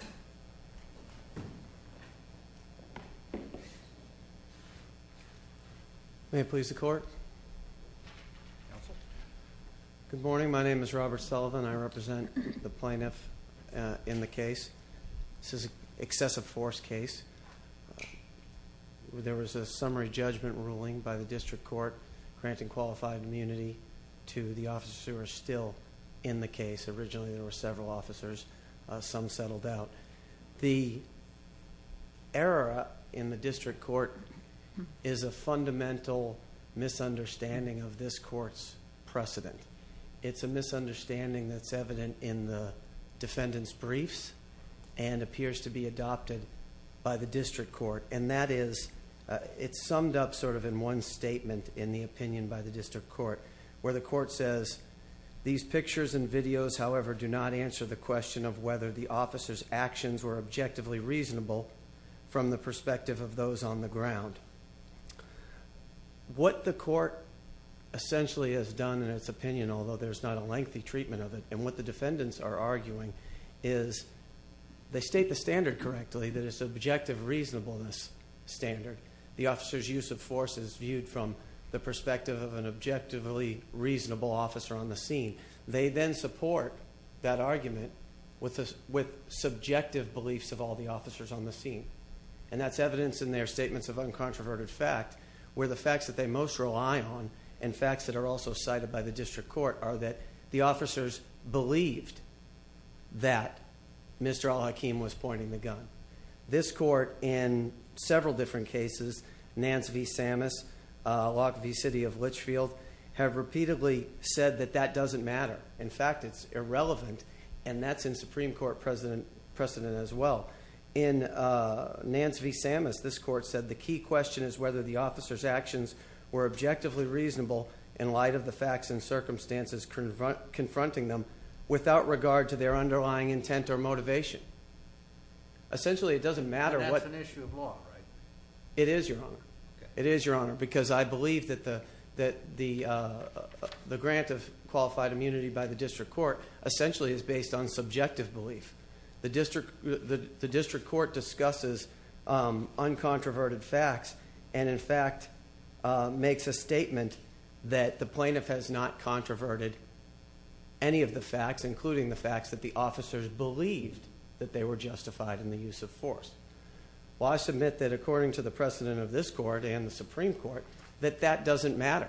Robert Sullivan v. Plaintiff The error in the district court is a fundamental misunderstanding of this court's precedent. It's a misunderstanding that's evident in the defendant's briefs and appears to be adopted by the district court. And that is, it's summed up sort of in one statement in the opinion by the district court, where the court says, these pictures and videos, however, do not answer the question of whether the officer's actions were objectively reasonable from the perspective of those on the ground. What the court essentially has done in its opinion, although there's not a lengthy treatment of it, and what the defendants are arguing is they state the standard correctly, that it's objective reasonableness standard. The officer's use of force is viewed from the perspective of an objectively reasonable officer on the scene. They then support that argument with subjective beliefs of all the officers on the scene. And that's evidence in their statements of uncontroverted fact, where the facts that they most rely on, and facts that are also cited by the district court, are that the officers believed that Mr. al-Hakim was pointing the gun. This court, in several different cases, Nance v. Sammis, Locke v. City of Litchfield, have repeatedly said that that doesn't matter. In fact, it's irrelevant, and that's in Supreme Court precedent as well. In Nance v. Sammis, this court said the key question is whether the officer's actions were objectively reasonable in light of the facts and circumstances confronting them without regard to their underlying intent or motivation. Essentially, it doesn't matter what... And that's an issue of law, right? It is, Your Honor. It is, Your Honor, because I believe that the grant of qualified immunity by the district court essentially is based on subjective belief. The district court discusses uncontroverted facts and, in fact, makes a statement that the plaintiff has not controverted any of the facts, including the facts that the officers believed that they were justified in the use of force. Well, I submit that, according to the precedent of this court and the Supreme Court, that that doesn't matter.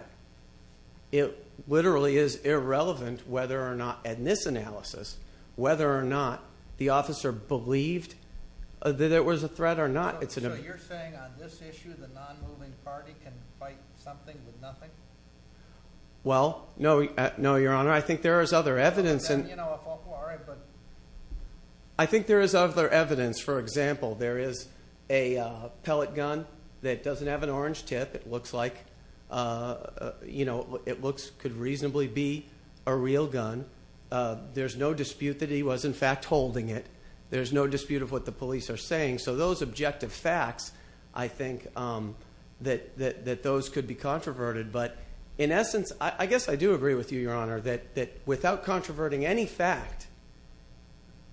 It literally is irrelevant whether or not, in this analysis, whether or not the officer believed that it was a threat or not. So you're saying, on this issue, the non-moving party can fight something with nothing? Well, no, Your Honor. I think there is other evidence. Then, you know, I thought, well, all right, but... I think there is other evidence. For example, there is a pellet gun that doesn't have an orange tip. It looks like it could reasonably be a real gun. There's no dispute that he was, in fact, holding it. There's no dispute of what the police are saying. So those objective facts, I think that those could be controverted. But, in essence, I guess I do agree with you, Your Honor, that without controverting any fact,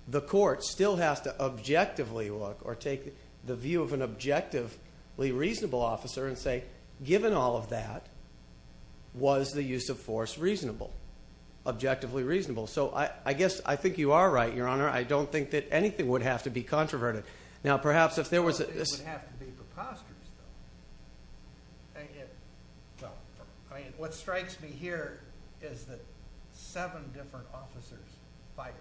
the court still has to objectively look or take the view of an objectively reasonable officer and say, given all of that, was the use of force reasonable, objectively reasonable? So I guess I think you are right, Your Honor. I don't think that anything would have to be controverted. Now, perhaps if there was a... It would have to be preposterous, though. I mean, what strikes me here is that seven different officers fight.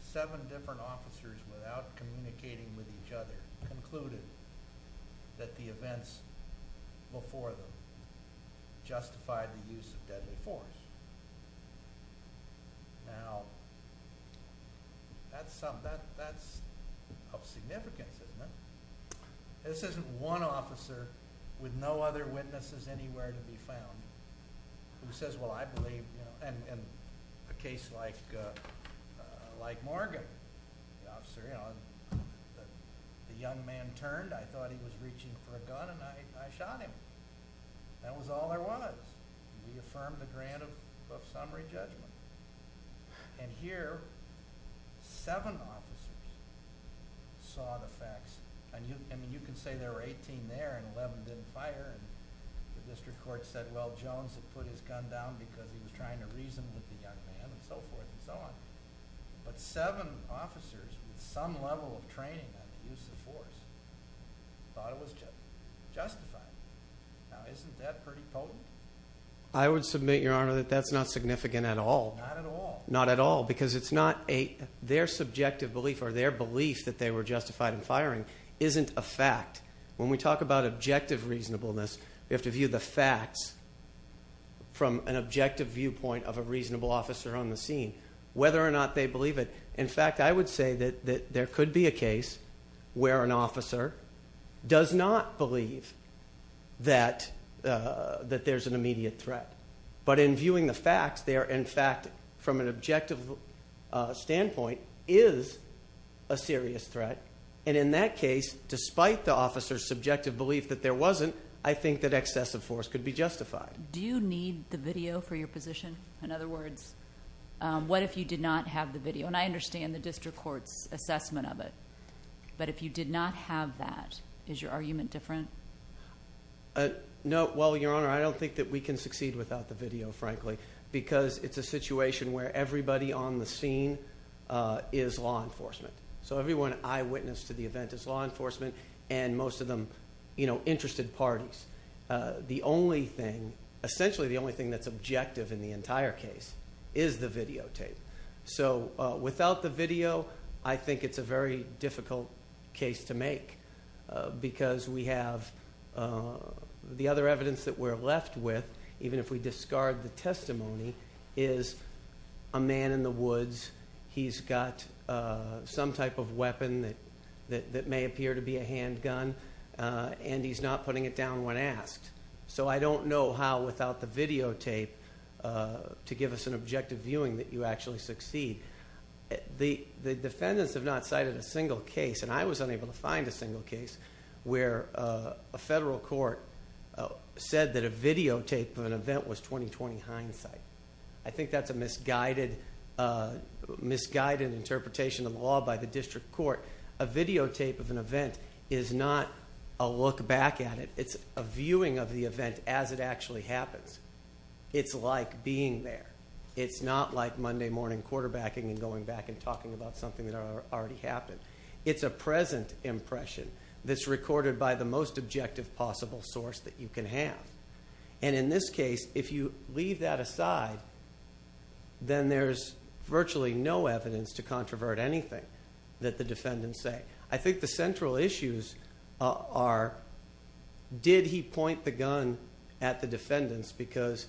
Seven different officers, without communicating with each other, concluded that the events before them justified the use of deadly force. Now, that's of significance, isn't it? This isn't one officer with no other witnesses anywhere to be found who says, well, I believe... In a case like Morgan, the young man turned. I thought he was reaching for a gun, and I shot him. That was all there was. We affirmed the grant of summary judgment. And here, seven officers saw the facts. I mean, you can say there were 18 there and 11 didn't fire, and the district court said, well, Jones had put his gun down because he was trying to reason with the young man and so forth and so on. But seven officers with some level of training on the use of force thought it was justified. Now, isn't that pretty potent? I would submit, Your Honor, that that's not significant at all. Not at all? Not at all, because it's not a... Their subjective belief or their belief that they were justified in firing isn't a fact. When we talk about objective reasonableness, we have to view the facts from an objective viewpoint of a reasonable officer on the scene, whether or not they believe it. In fact, I would say that there could be a case where an officer does not believe that there's an immediate threat. But in viewing the facts, they are, in fact, from an objective standpoint, is a serious threat. And in that case, despite the officer's subjective belief that there wasn't, I think that excessive force could be justified. Do you need the video for your position? In other words, what if you did not have the video? And I understand the district court's assessment of it. But if you did not have that, is your argument different? No. Well, Your Honor, I don't think that we can succeed without the video, frankly, because it's a situation where everybody on the scene is law enforcement. So everyone eyewitness to the event is law enforcement, and most of them interested parties. The only thing, essentially the only thing that's objective in the entire case is the videotape. So without the video, I think it's a very difficult case to make because we have the other evidence that we're left with, even if we discard the testimony, is a man in the woods. He's got some type of weapon that may appear to be a handgun, and he's not putting it down when asked. So I don't know how, without the videotape, to give us an objective viewing that you actually succeed. The defendants have not cited a single case, and I was unable to find a single case, where a federal court said that a videotape of an event was 20-20 hindsight. I think that's a misguided interpretation of the law by the district court. A videotape of an event is not a look back at it. It's a viewing of the event as it actually happens. It's like being there. It's not like Monday morning quarterbacking and going back and talking about something that already happened. It's a present impression that's recorded by the most objective possible source that you can have. And in this case, if you leave that aside, then there's virtually no evidence to controvert anything that the defendants say. I think the central issues are, did he point the gun at the defendants because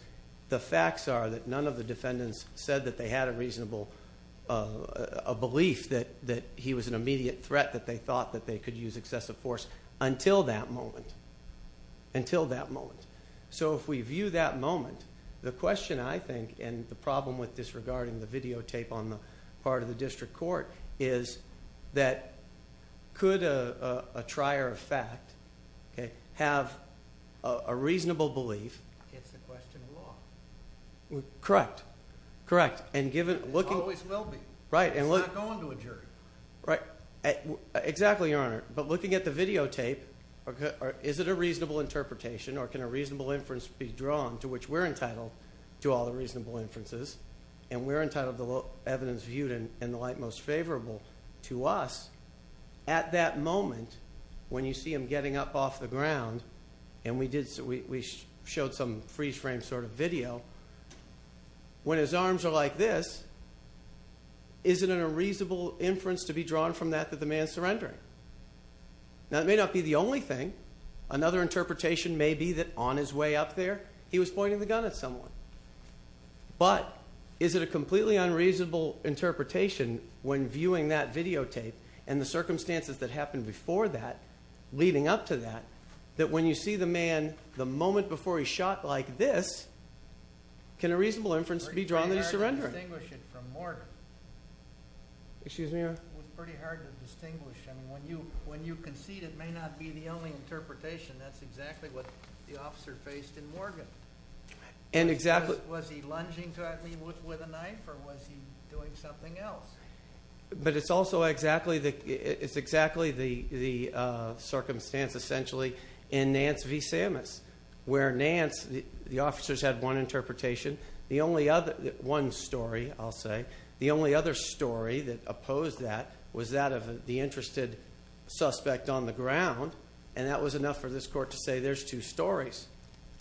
the facts are that none of the defendants said that they had a reasonable belief that he was an immediate threat, that they thought that they could use excessive force until that moment, until that moment. So if we view that moment, the question, I think, and the problem with disregarding the videotape on the part of the district court, is that could a trier of fact have a reasonable belief against the question of law? Correct. Correct. And given... Always will be. Right. It's not going to a jury. Right. Exactly, Your Honor. But looking at the videotape, is it a reasonable interpretation or can a reasonable inference be drawn, to which we're entitled to all the reasonable inferences, and we're entitled to the evidence viewed in the light most favorable to us, at that moment when you see him getting up off the ground and we showed some freeze-frame sort of video, when his arms are like this, is it a reasonable inference to be drawn from that that the man is surrendering? Now, it may not be the only thing. Another interpretation may be that on his way up there, he was pointing the gun at someone. But is it a completely unreasonable interpretation when viewing that videotape and the circumstances that happened before that, leading up to that, that when you see the man the moment before he shot like this, can a reasonable inference be drawn that he's surrendering? It was pretty hard to distinguish it from Morgan. Excuse me, Your Honor? It was pretty hard to distinguish. When you concede, it may not be the only interpretation. That's exactly what the officer faced in Morgan. And exactly... Was he lunging at me with a knife or was he doing something else? But it's also exactly the circumstance, essentially, in Nance v. Sammis, where Nance, the officers had one interpretation, the only other... one story, I'll say. The only other story that opposed that was that of the interested suspect on the ground, and that was enough for this court to say, there's two stories,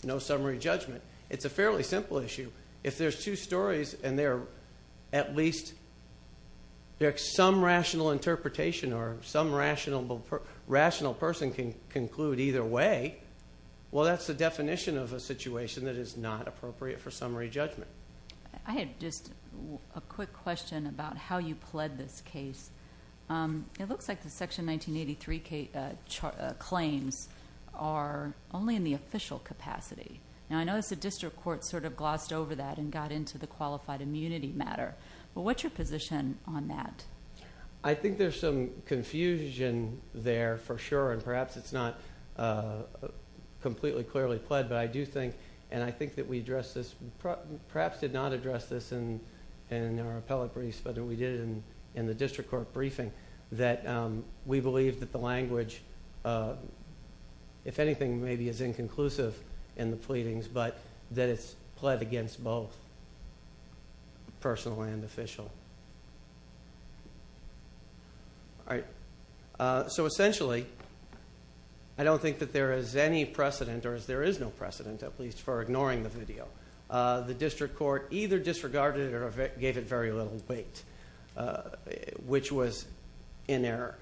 no summary judgment. It's a fairly simple issue. If there's two stories and they're at least... there's some rational interpretation or some rational person can conclude either way, well, that's the definition of a situation that is not appropriate for summary judgment. I have just a quick question about how you pled this case. It looks like the Section 1983 claims are only in the official capacity. Now, I notice the district court sort of glossed over that and got into the qualified immunity matter, but what's your position on that? I think there's some confusion there, for sure, and perhaps it's not completely clearly pled, but I do think, and I think that we addressed this... perhaps did not address this in our appellate briefs, but we did it in the district court briefing, that we believe that the language, if anything, maybe is inconclusive in the pleadings, but that it's pled against both personal and official. All right, so essentially, I don't think that there is any precedent, or there is no precedent, at least for ignoring the video. The district court either disregarded it or gave it very little weight, which was in error.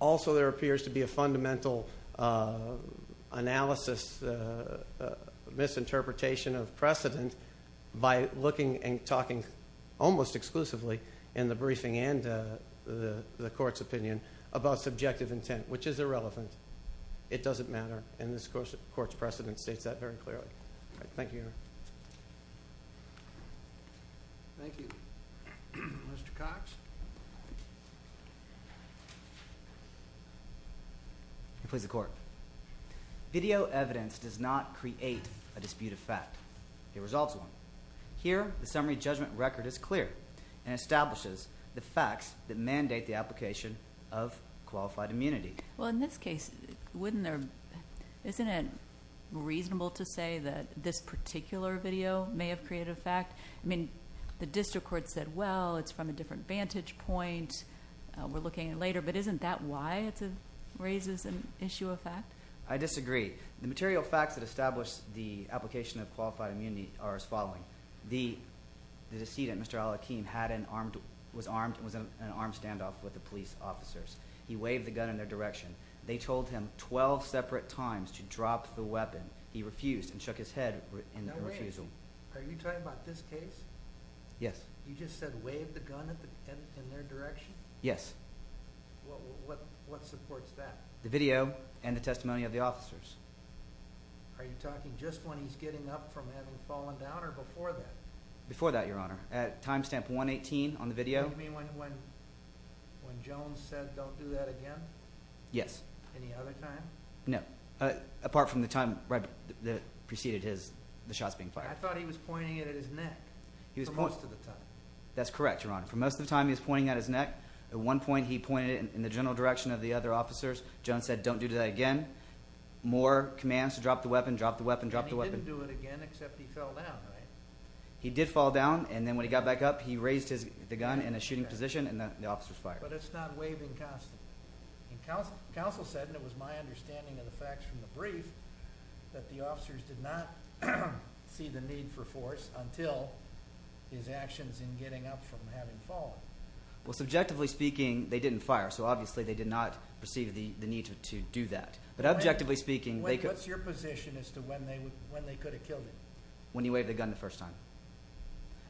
Also, there appears to be a fundamental analysis, misinterpretation of precedent by looking and talking almost exclusively in the briefing and the court's opinion about subjective intent, which is irrelevant. It doesn't matter, and this court's precedent states that very clearly. All right, thank you. Thank you. Mr. Cox? Please, the court. Video evidence does not create a dispute of fact. It resolves one. Here, the summary judgment record is clear and establishes the facts that mandate the application of qualified immunity. Well, in this case, wouldn't there, isn't it reasonable to say that this particular video may have created a fact? I mean, the district court said, well, it's from a different vantage point. We're looking at it later, but isn't that why it raises an issue of fact? I disagree. The material facts that establish the application of qualified immunity are as following. The decedent, Mr. Al-Akim, was in an armed standoff with the police officers. He waved the gun in their direction. They told him 12 separate times to drop the weapon. He refused and shook his head in refusal. Now, wait. Are you talking about this case? Yes. You just said wave the gun in their direction? Yes. Well, what supports that? The video and the testimony of the officers. Are you talking just when he's getting up from having fallen down or before that? Before that, Your Honor. At time stamp 118 on the video. You mean when Jones said don't do that again? Yes. Any other time? No. Apart from the time that preceded the shots being fired. I thought he was pointing it at his neck for most of the time. That's correct, Your Honor. For most of the time, he was pointing at his neck. At one point, he pointed it in the general direction of the other officers. Jones said don't do that again. More commands to drop the weapon. Drop the weapon. Drop the weapon. And he didn't do it again except he fell down, right? He did fall down, and then when he got back up, he raised the gun in a shooting position, and the officers fired. But it's not waving constantly. Counsel said, and it was my understanding of the facts from the brief, that the officers did not see the need for force until his actions in getting up from having fallen. Well, subjectively speaking, they didn't fire, so obviously they did not perceive the need to do that. But objectively speaking, they could... What's your position as to when they could have killed him? When he waved the gun the first time.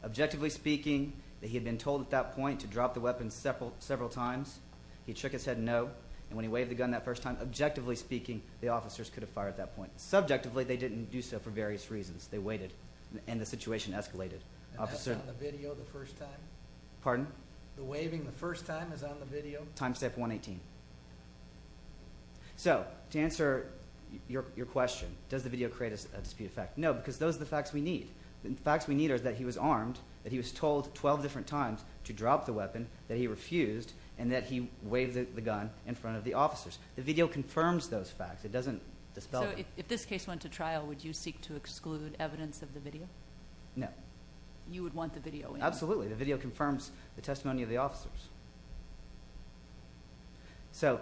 Objectively speaking, he had been told at that point to drop the weapon several times. He shook his head no, and when he waved the gun that first time, objectively speaking, the officers could have fired at that point. Subjectively, they didn't do so for various reasons. They waited, and the situation escalated. And that's on the video the first time? Pardon? The waving the first time is on the video? Timestamp 118. So, to answer your question, does the video create a dispute effect? No, because those are the facts we need. The facts we need are that he was armed, that he was told 12 different times to drop the weapon, that he refused, and that he waved the gun in front of the officers. The video confirms those facts. It doesn't dispel them. So if this case went to trial, would you seek to exclude evidence of the video? No. You would want the video in? Absolutely. The video confirms the testimony of the officers. So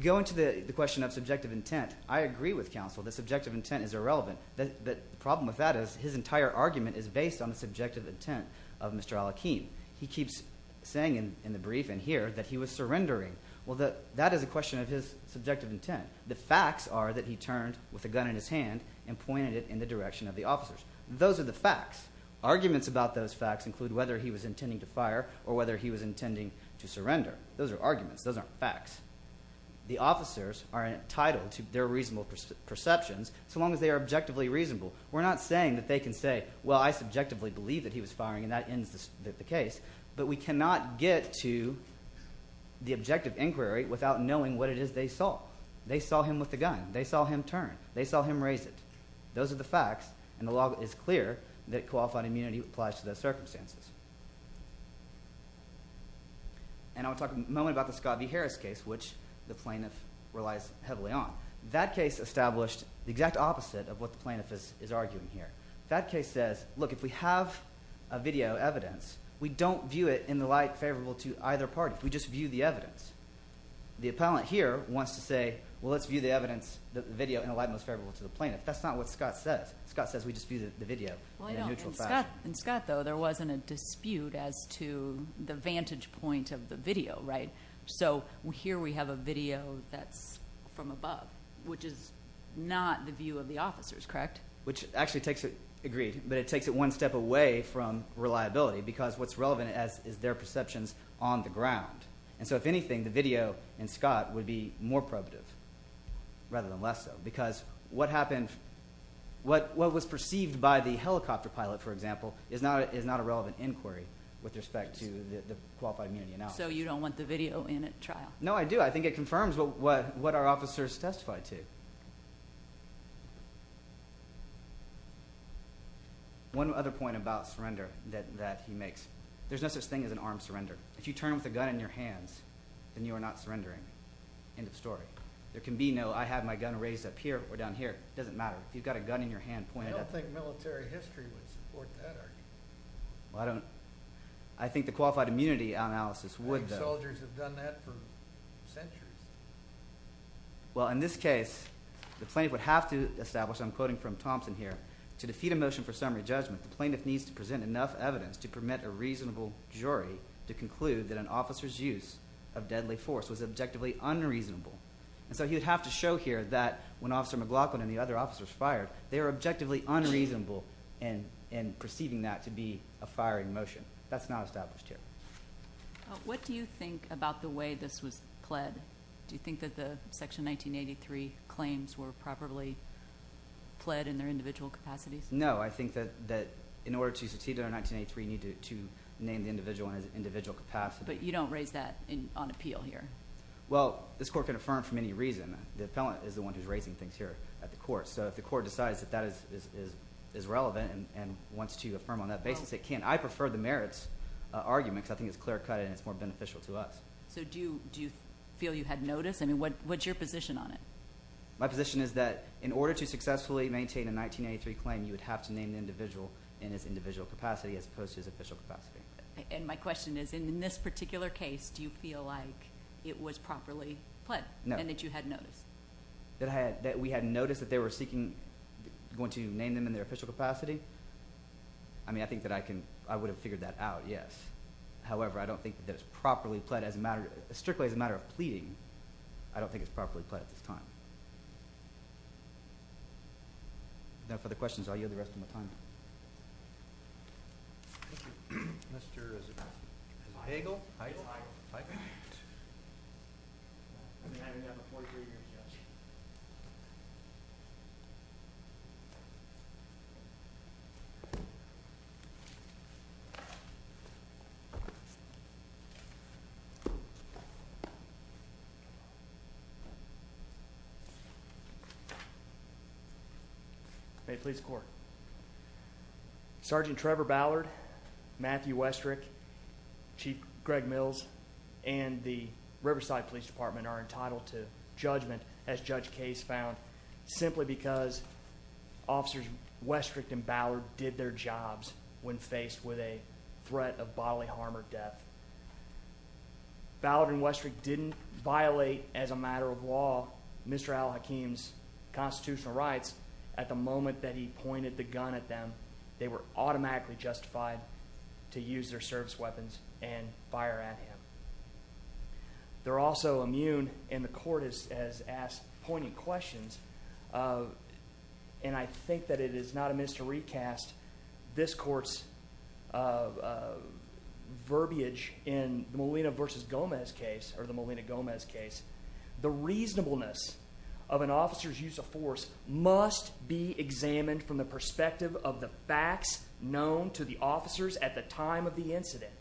going to the question of subjective intent, I agree with counsel that subjective intent is irrelevant. The problem with that is his entire argument is based on the subjective intent of Mr. Al-Akhim. He keeps saying in the briefing here that he was surrendering. Well, that is a question of his subjective intent. The facts are that he turned with a gun in his hand and pointed it in the direction of the officers. Those are the facts. Arguments about those facts include whether he was intending to fire or whether he was intending to surrender. Those are arguments. Those aren't facts. The officers are entitled to their reasonable perceptions so long as they are objectively reasonable. We're not saying that they can say, well, I subjectively believe that he was firing, and that ends the case. But we cannot get to the objective inquiry without knowing what it is they saw. They saw him with the gun. They saw him turn. They saw him raise it. Those are the facts, and the law is clear that qualified immunity applies to those circumstances. And I want to talk a moment about the Scott v. Harris case, which the plaintiff relies heavily on. That case established the exact opposite of what the plaintiff is arguing here. That case says, look, if we have a video evidence, we don't view it in the light favorable to either party. We just view the evidence. The appellant here wants to say, well, let's view the evidence, the video in a light most favorable to the plaintiff. That's not what Scott says. Scott says we just view the video in a neutral fashion. In Scott, though, there wasn't a dispute as to the vantage point of the video, right? So here we have a video that's from above, which is not the view of the officers, correct? Which actually takes it, agreed, but it takes it one step away from reliability because what's relevant is their perceptions on the ground. And so if anything, the video in Scott would be more probative rather than less so because what happened, what was perceived by the helicopter pilot, for example, is not a relevant inquiry with respect to the qualified immunity analysis. So you don't want the video in at trial? No, I do. I think it confirms what our officers testified to. One other point about surrender that he makes. There's no such thing as an armed surrender. If you turn with a gun in your hands, then you are not surrendering. End of story. There can be no I have my gun raised up here or down here. It doesn't matter. If you've got a gun in your hand pointed at you. I don't think military history would support that argument. Well, I don't. I think the qualified immunity analysis would, though. I think soldiers have done that for centuries. Well, in this case, the plaintiff would have to establish, and I'm quoting from Thompson here, to defeat a motion for summary judgment, the plaintiff needs to present enough evidence to permit a reasonable jury to conclude that an officer's use of deadly force was objectively unreasonable. So he would have to show here that when Officer McLaughlin and the other officers fired, they were objectively unreasonable in perceiving that to be a firing motion. That's not established here. What do you think about the way this was pled? Do you think that the Section 1983 claims were properly pled in their individual capacities? No, I think that in order to succeed under 1983, you need to name the individual in an individual capacity. But you don't raise that on appeal here. Well, this court can affirm from any reason. The appellant is the one who's raising things here at the court. So if the court decides that that is relevant and wants to affirm on that basis, it can. I prefer the merits argument because I think it's clear-cut and it's more beneficial to us. So do you feel you had notice? I mean, what's your position on it? My position is that in order to successfully maintain a 1983 claim, you would have to name the individual in his individual capacity as opposed to his official capacity. And my question is, in this particular case, do you feel like it was properly pled and that you had notice? That we had notice that they were seeking going to name them in their official capacity? I mean, I think that I would have figured that out, yes. However, I don't think that it's properly pled. Strictly as a matter of pleading, I don't think it's properly pled at this time. If there are no further questions, I'll yield the rest of my time. Mr. Heigl? May it please the Court. Sergeant Trevor Ballard, Matthew Westrick, Chief Greg Mills, and the Riverside Police Department are entitled to judgment, as Judge Case found, simply because Officers Westrick and Ballard did their jobs when faced with a threat of bodily harm or death. Ballard and Westrick didn't violate, as a matter of law, Mr. Al-Hakim's constitutional rights at the moment that he pointed the gun at them. They were automatically justified to use their service weapons and fire at him. They're also immune, and the Court has asked poignant questions. And I think that it is not amiss to recast this Court's verbiage in the Molina v. Gomez case, or the Molina-Gomez case. The reasonableness of an officer's use of force must be examined from the perspective of the facts known to the officers at the time of the incident.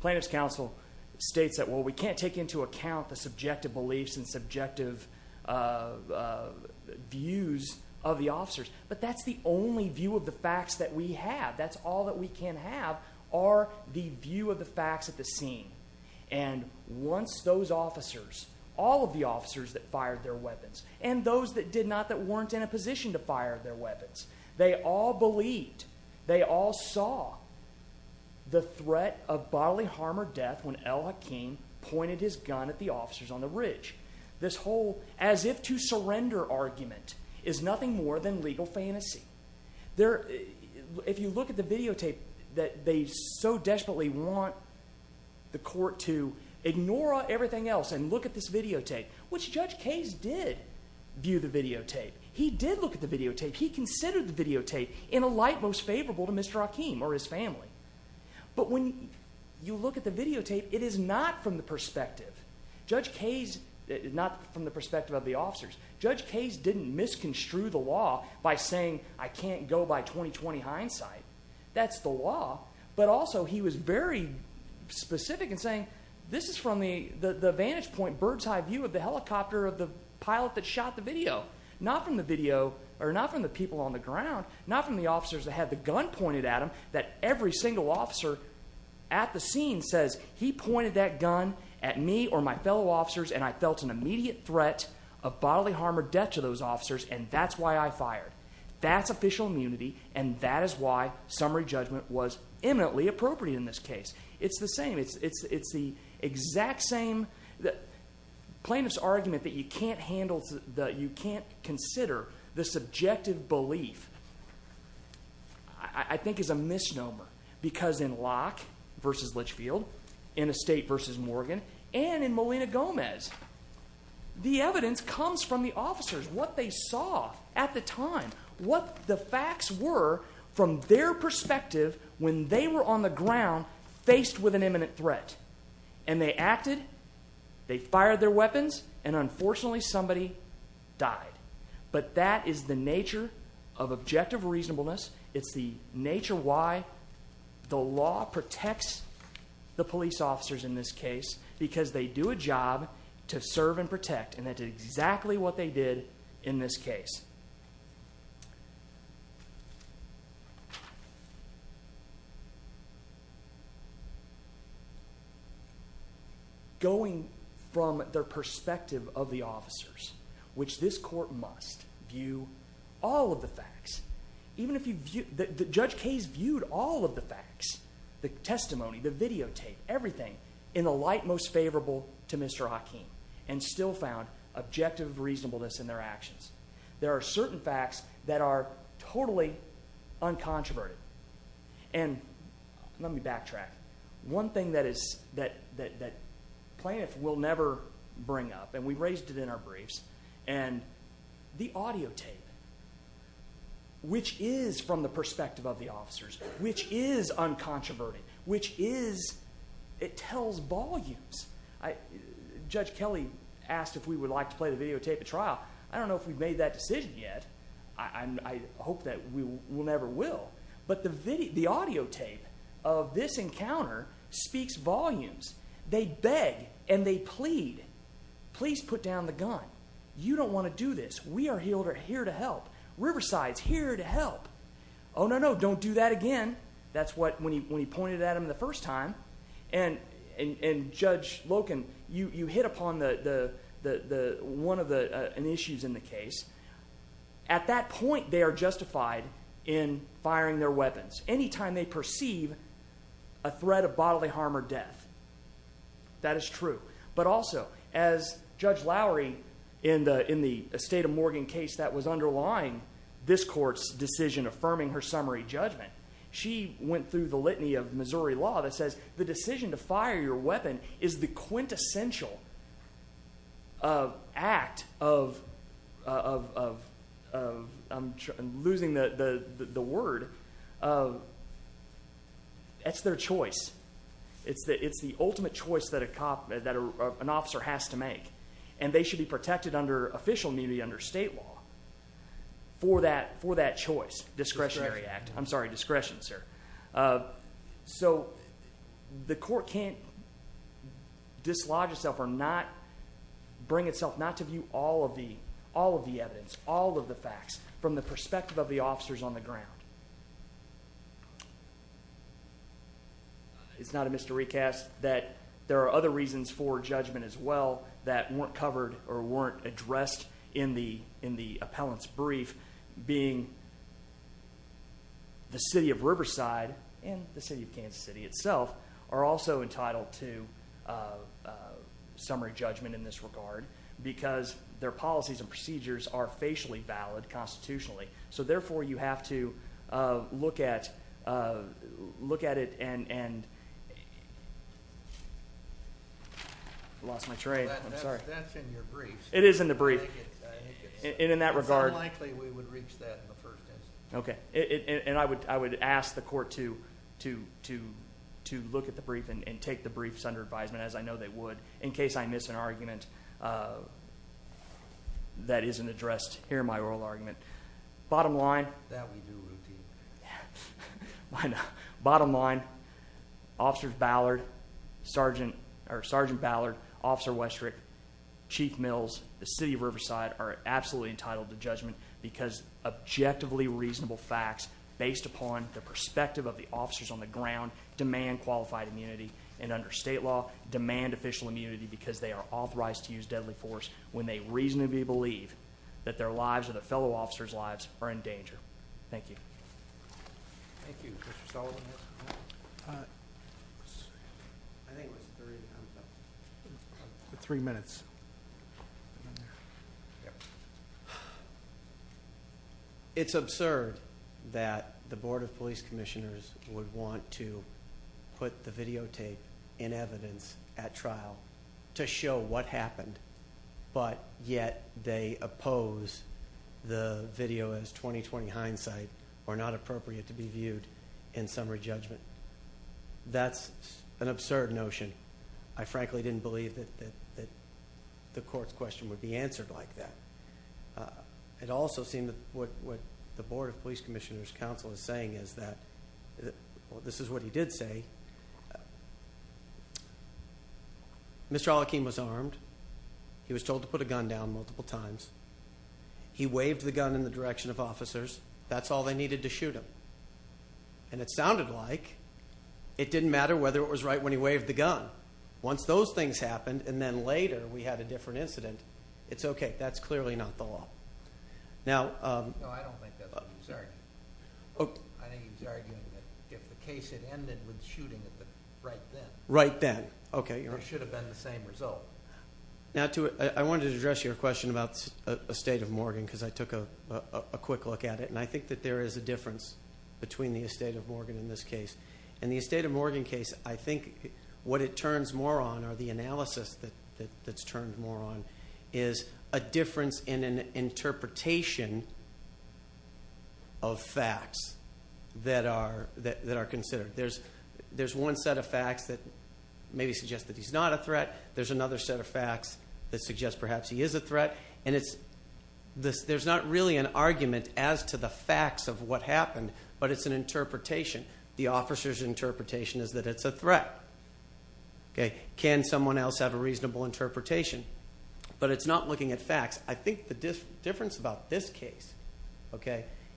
Plaintiff's counsel states that, well, we can't take into account the subjective beliefs and subjective views of the officers, but that's the only view of the facts that we have, that's all that we can have, are the view of the facts at the scene. And once those officers, all of the officers that fired their weapons, and those that did not, that weren't in a position to fire their weapons, they all believed, they all saw, the threat of bodily harm or death when Al-Hakim pointed his gun at the officers on the ridge. This whole as-if-to-surrender argument is nothing more than legal fantasy. If you look at the videotape, that they so desperately want the Court to ignore everything else and look at this videotape, which Judge Kays did view the videotape. He did look at the videotape. He considered the videotape in a light most favorable to Mr. Hakim or his family. But when you look at the videotape, it is not from the perspective, Judge Kays, not from the perspective of the officers, Judge Kays didn't misconstrue the law by saying, I can't go by 20-20 hindsight. That's the law. But also he was very specific in saying, this is from the vantage point, the bird's-eye view of the helicopter, of the pilot that shot the video. Not from the video, or not from the people on the ground, not from the officers that had the gun pointed at them, that every single officer at the scene says, he pointed that gun at me or my fellow officers and I felt an immediate threat of bodily harm or death to those officers and that's why I fired. That's official immunity and that is why summary judgment was eminently appropriate in this case. It's the same. It's the exact same plaintiff's argument that you can't consider the subjective belief I think is a misnomer because in Locke versus Litchfield, in Estate versus Morgan, and in Molina Gomez, the evidence comes from the officers, what they saw at the time, what the facts were from their perspective when they were on the ground faced with an imminent threat. And they acted, they fired their weapons, and unfortunately somebody died. But that is the nature of objective reasonableness. It's the nature why the law protects the police officers in this case because they do a job to serve and protect and that's exactly what they did in this case. Going from their perspective of the officers, which this court must view all of the facts, even if you view... Judge Case viewed all of the facts, the testimony, the videotape, everything, in the light most favorable to Mr. Hakeem and still found objective reasonableness in their actions. There are certain facts that are totally uncontroverted and let me backtrack. One thing that plaintiff will never bring up, and we raised it in our briefs, and the audio tape, which is from the perspective of the officers, which is uncontroverted, which is, it tells volumes. Judge Kelly asked if we would like to play the videotape at trial. I don't know if we've made that decision yet. I hope that we never will. But the audio tape of this encounter speaks volumes. They beg and they plead. Please put down the gun. You don't want to do this. We are here to help. Riverside's here to help. Oh, no, no, don't do that again. That's what, when he pointed at him the first time, and Judge Loken, you hit upon one of the issues in the case. At that point, they are justified in firing their weapons. Any time they perceive a threat of bodily harm or death. That is true. But also, as Judge Lowery, in the Estate of Morgan case that was underlying this court's decision affirming her summary judgment, she went through the litany of Missouri law that says the decision to fire your weapon is the quintessential act of, I'm losing the word, that's their choice. It's the ultimate choice that a cop, that an officer has to make. And they should be protected under official immunity under state law for that choice. Discretionary act. I'm sorry, discretion, sir. So, the court can't dislodge itself or not bring itself not to view all of the evidence, all of the facts, from the perspective of the officers on the ground. It's not a mystery, Cass, that there are other reasons for judgment as well that weren't covered or weren't addressed in the appellant's brief, being the city of Riverside and the city of Kansas City itself are also entitled to summary judgment in this regard because their policies and procedures are facially valid constitutionally. So, therefore, you have to look at it and... I lost my train. I'm sorry. That's in your brief. It is in the brief. And in that regard... It's unlikely we would reach that in the first instance. Okay. And I would ask the court to look at the brief and take the briefs under advisement, as I know they would, in case I miss an argument that isn't addressed here in my oral argument. Bottom line... That we do routinely. Bottom line, Officer Ballard, Sergeant Ballard, Officer Westrick, Chief Mills, the city of Riverside are absolutely entitled to judgment because objectively reasonable facts based upon the perspective of the officers on the ground demand qualified immunity and under state law demand official immunity because they are authorized to use deadly force when they reasonably believe that their lives or the fellow officers' lives are in danger. Thank you. Thank you, Mr. Sullivan. I think it was three minutes. Yep. It's absurd that the Board of Police Commissioners would want to put the videotape in evidence at trial to show what happened, but yet they oppose the video as 20-20 hindsight or not appropriate to be viewed in summary judgment. That's an absurd notion. I frankly didn't believe that the court's question would be answered like that. It also seemed that what the Board of Police Commissioners' counsel is saying is that, well, this is what he did say. Mr. Al-Akhim was armed. He was told to put a gun down multiple times. He waved the gun in the direction of officers. That's all they needed to shoot him. And it sounded like it didn't matter whether it was right when he waved the gun. Once those things happened, and then later we had a different incident, it's okay. That's clearly not the law. No, I don't think that's what he's arguing. I think he's arguing that if the case had ended with shooting, it would have been right then. Right then, okay. It should have been the same result. I wanted to address your question about Estate of Morgan because I took a quick look at it, and I think that there is a difference between the Estate of Morgan and this case. In the Estate of Morgan case, I think what it turns more on, or the analysis that's turned more on, is a difference in an interpretation of facts that are considered. There's one set of facts that maybe suggest that he's not a threat. There's another set of facts that suggest perhaps he is a threat. And there's not really an argument as to the facts of what happened, but it's an interpretation. The officer's interpretation is that it's a threat. Can someone else have a reasonable interpretation? But it's not looking at facts. I think the difference about this case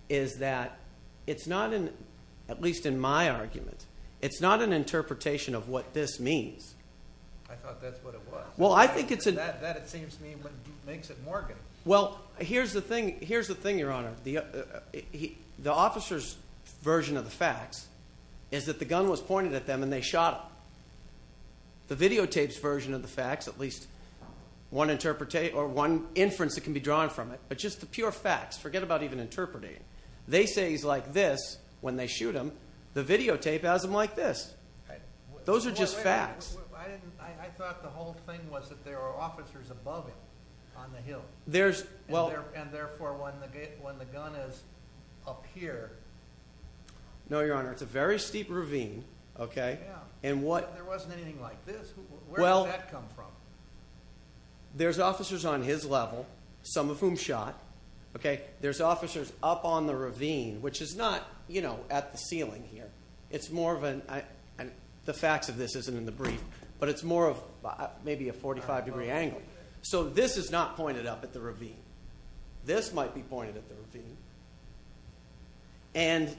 is that it's not, at least in my argument, it's not an interpretation of what this means. I thought that's what it was. That, it seems to me, makes it Morgan. Well, here's the thing, Your Honor. The officer's version of the facts is that the gun was pointed at them and they shot him. The videotape's version of the facts, at least one inference that can be drawn from it, but just the pure facts. Forget about even interpreting. They say he's like this when they shoot him. The videotape has him like this. Those are just facts. I thought the whole thing was that there were officers above him on the hill. And therefore, when the gun is up here... No, Your Honor. It's a very steep ravine. There wasn't anything like this. Where did that come from? There's officers on his level, some of whom shot. There's officers up on the ravine, which is not at the ceiling here. It's more of an... The facts of this isn't in the brief, but it's more of maybe a 45-degree angle. So this is not pointed up at the ravine. This might be pointed at the ravine. And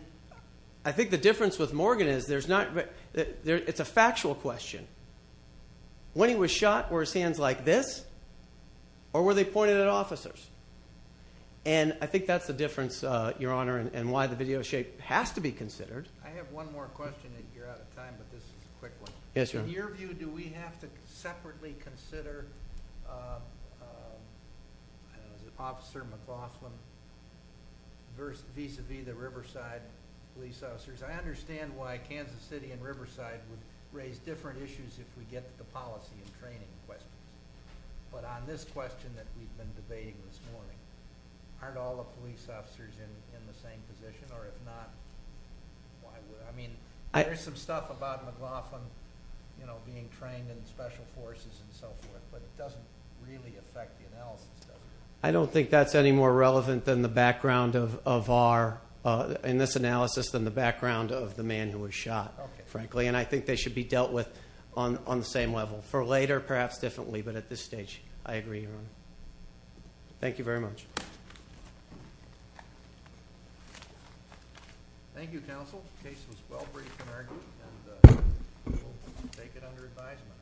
I think the difference with Morgan is there's not... It's a factual question. When he was shot, were his hands like this? Or were they pointed at officers? And I think that's the difference, Your Honor, in why the video tape has to be considered. I have one more question. You're out of time, but this is a quick one. Yes, Your Honor. Do we have to separately consider Officer McLaughlin vis-a-vis the Riverside police officers? I understand why Kansas City and Riverside would raise different issues if we get to the policy and training questions. But on this question that we've been debating this morning, aren't all the police officers in the same position? Or if not, why would... I mean, there's some stuff about McLaughlin being trained in special forces and so forth, but it doesn't really affect the analysis, does it? I don't think that's any more relevant than the background of our... in this analysis, than the background of the man who was shot, frankly. And I think they should be dealt with on the same level. For later, perhaps differently, but at this stage, I agree, Your Honor. Thank you very much. Thank you, counsel. The case was well-briefed in our group, and we'll take it under advisement.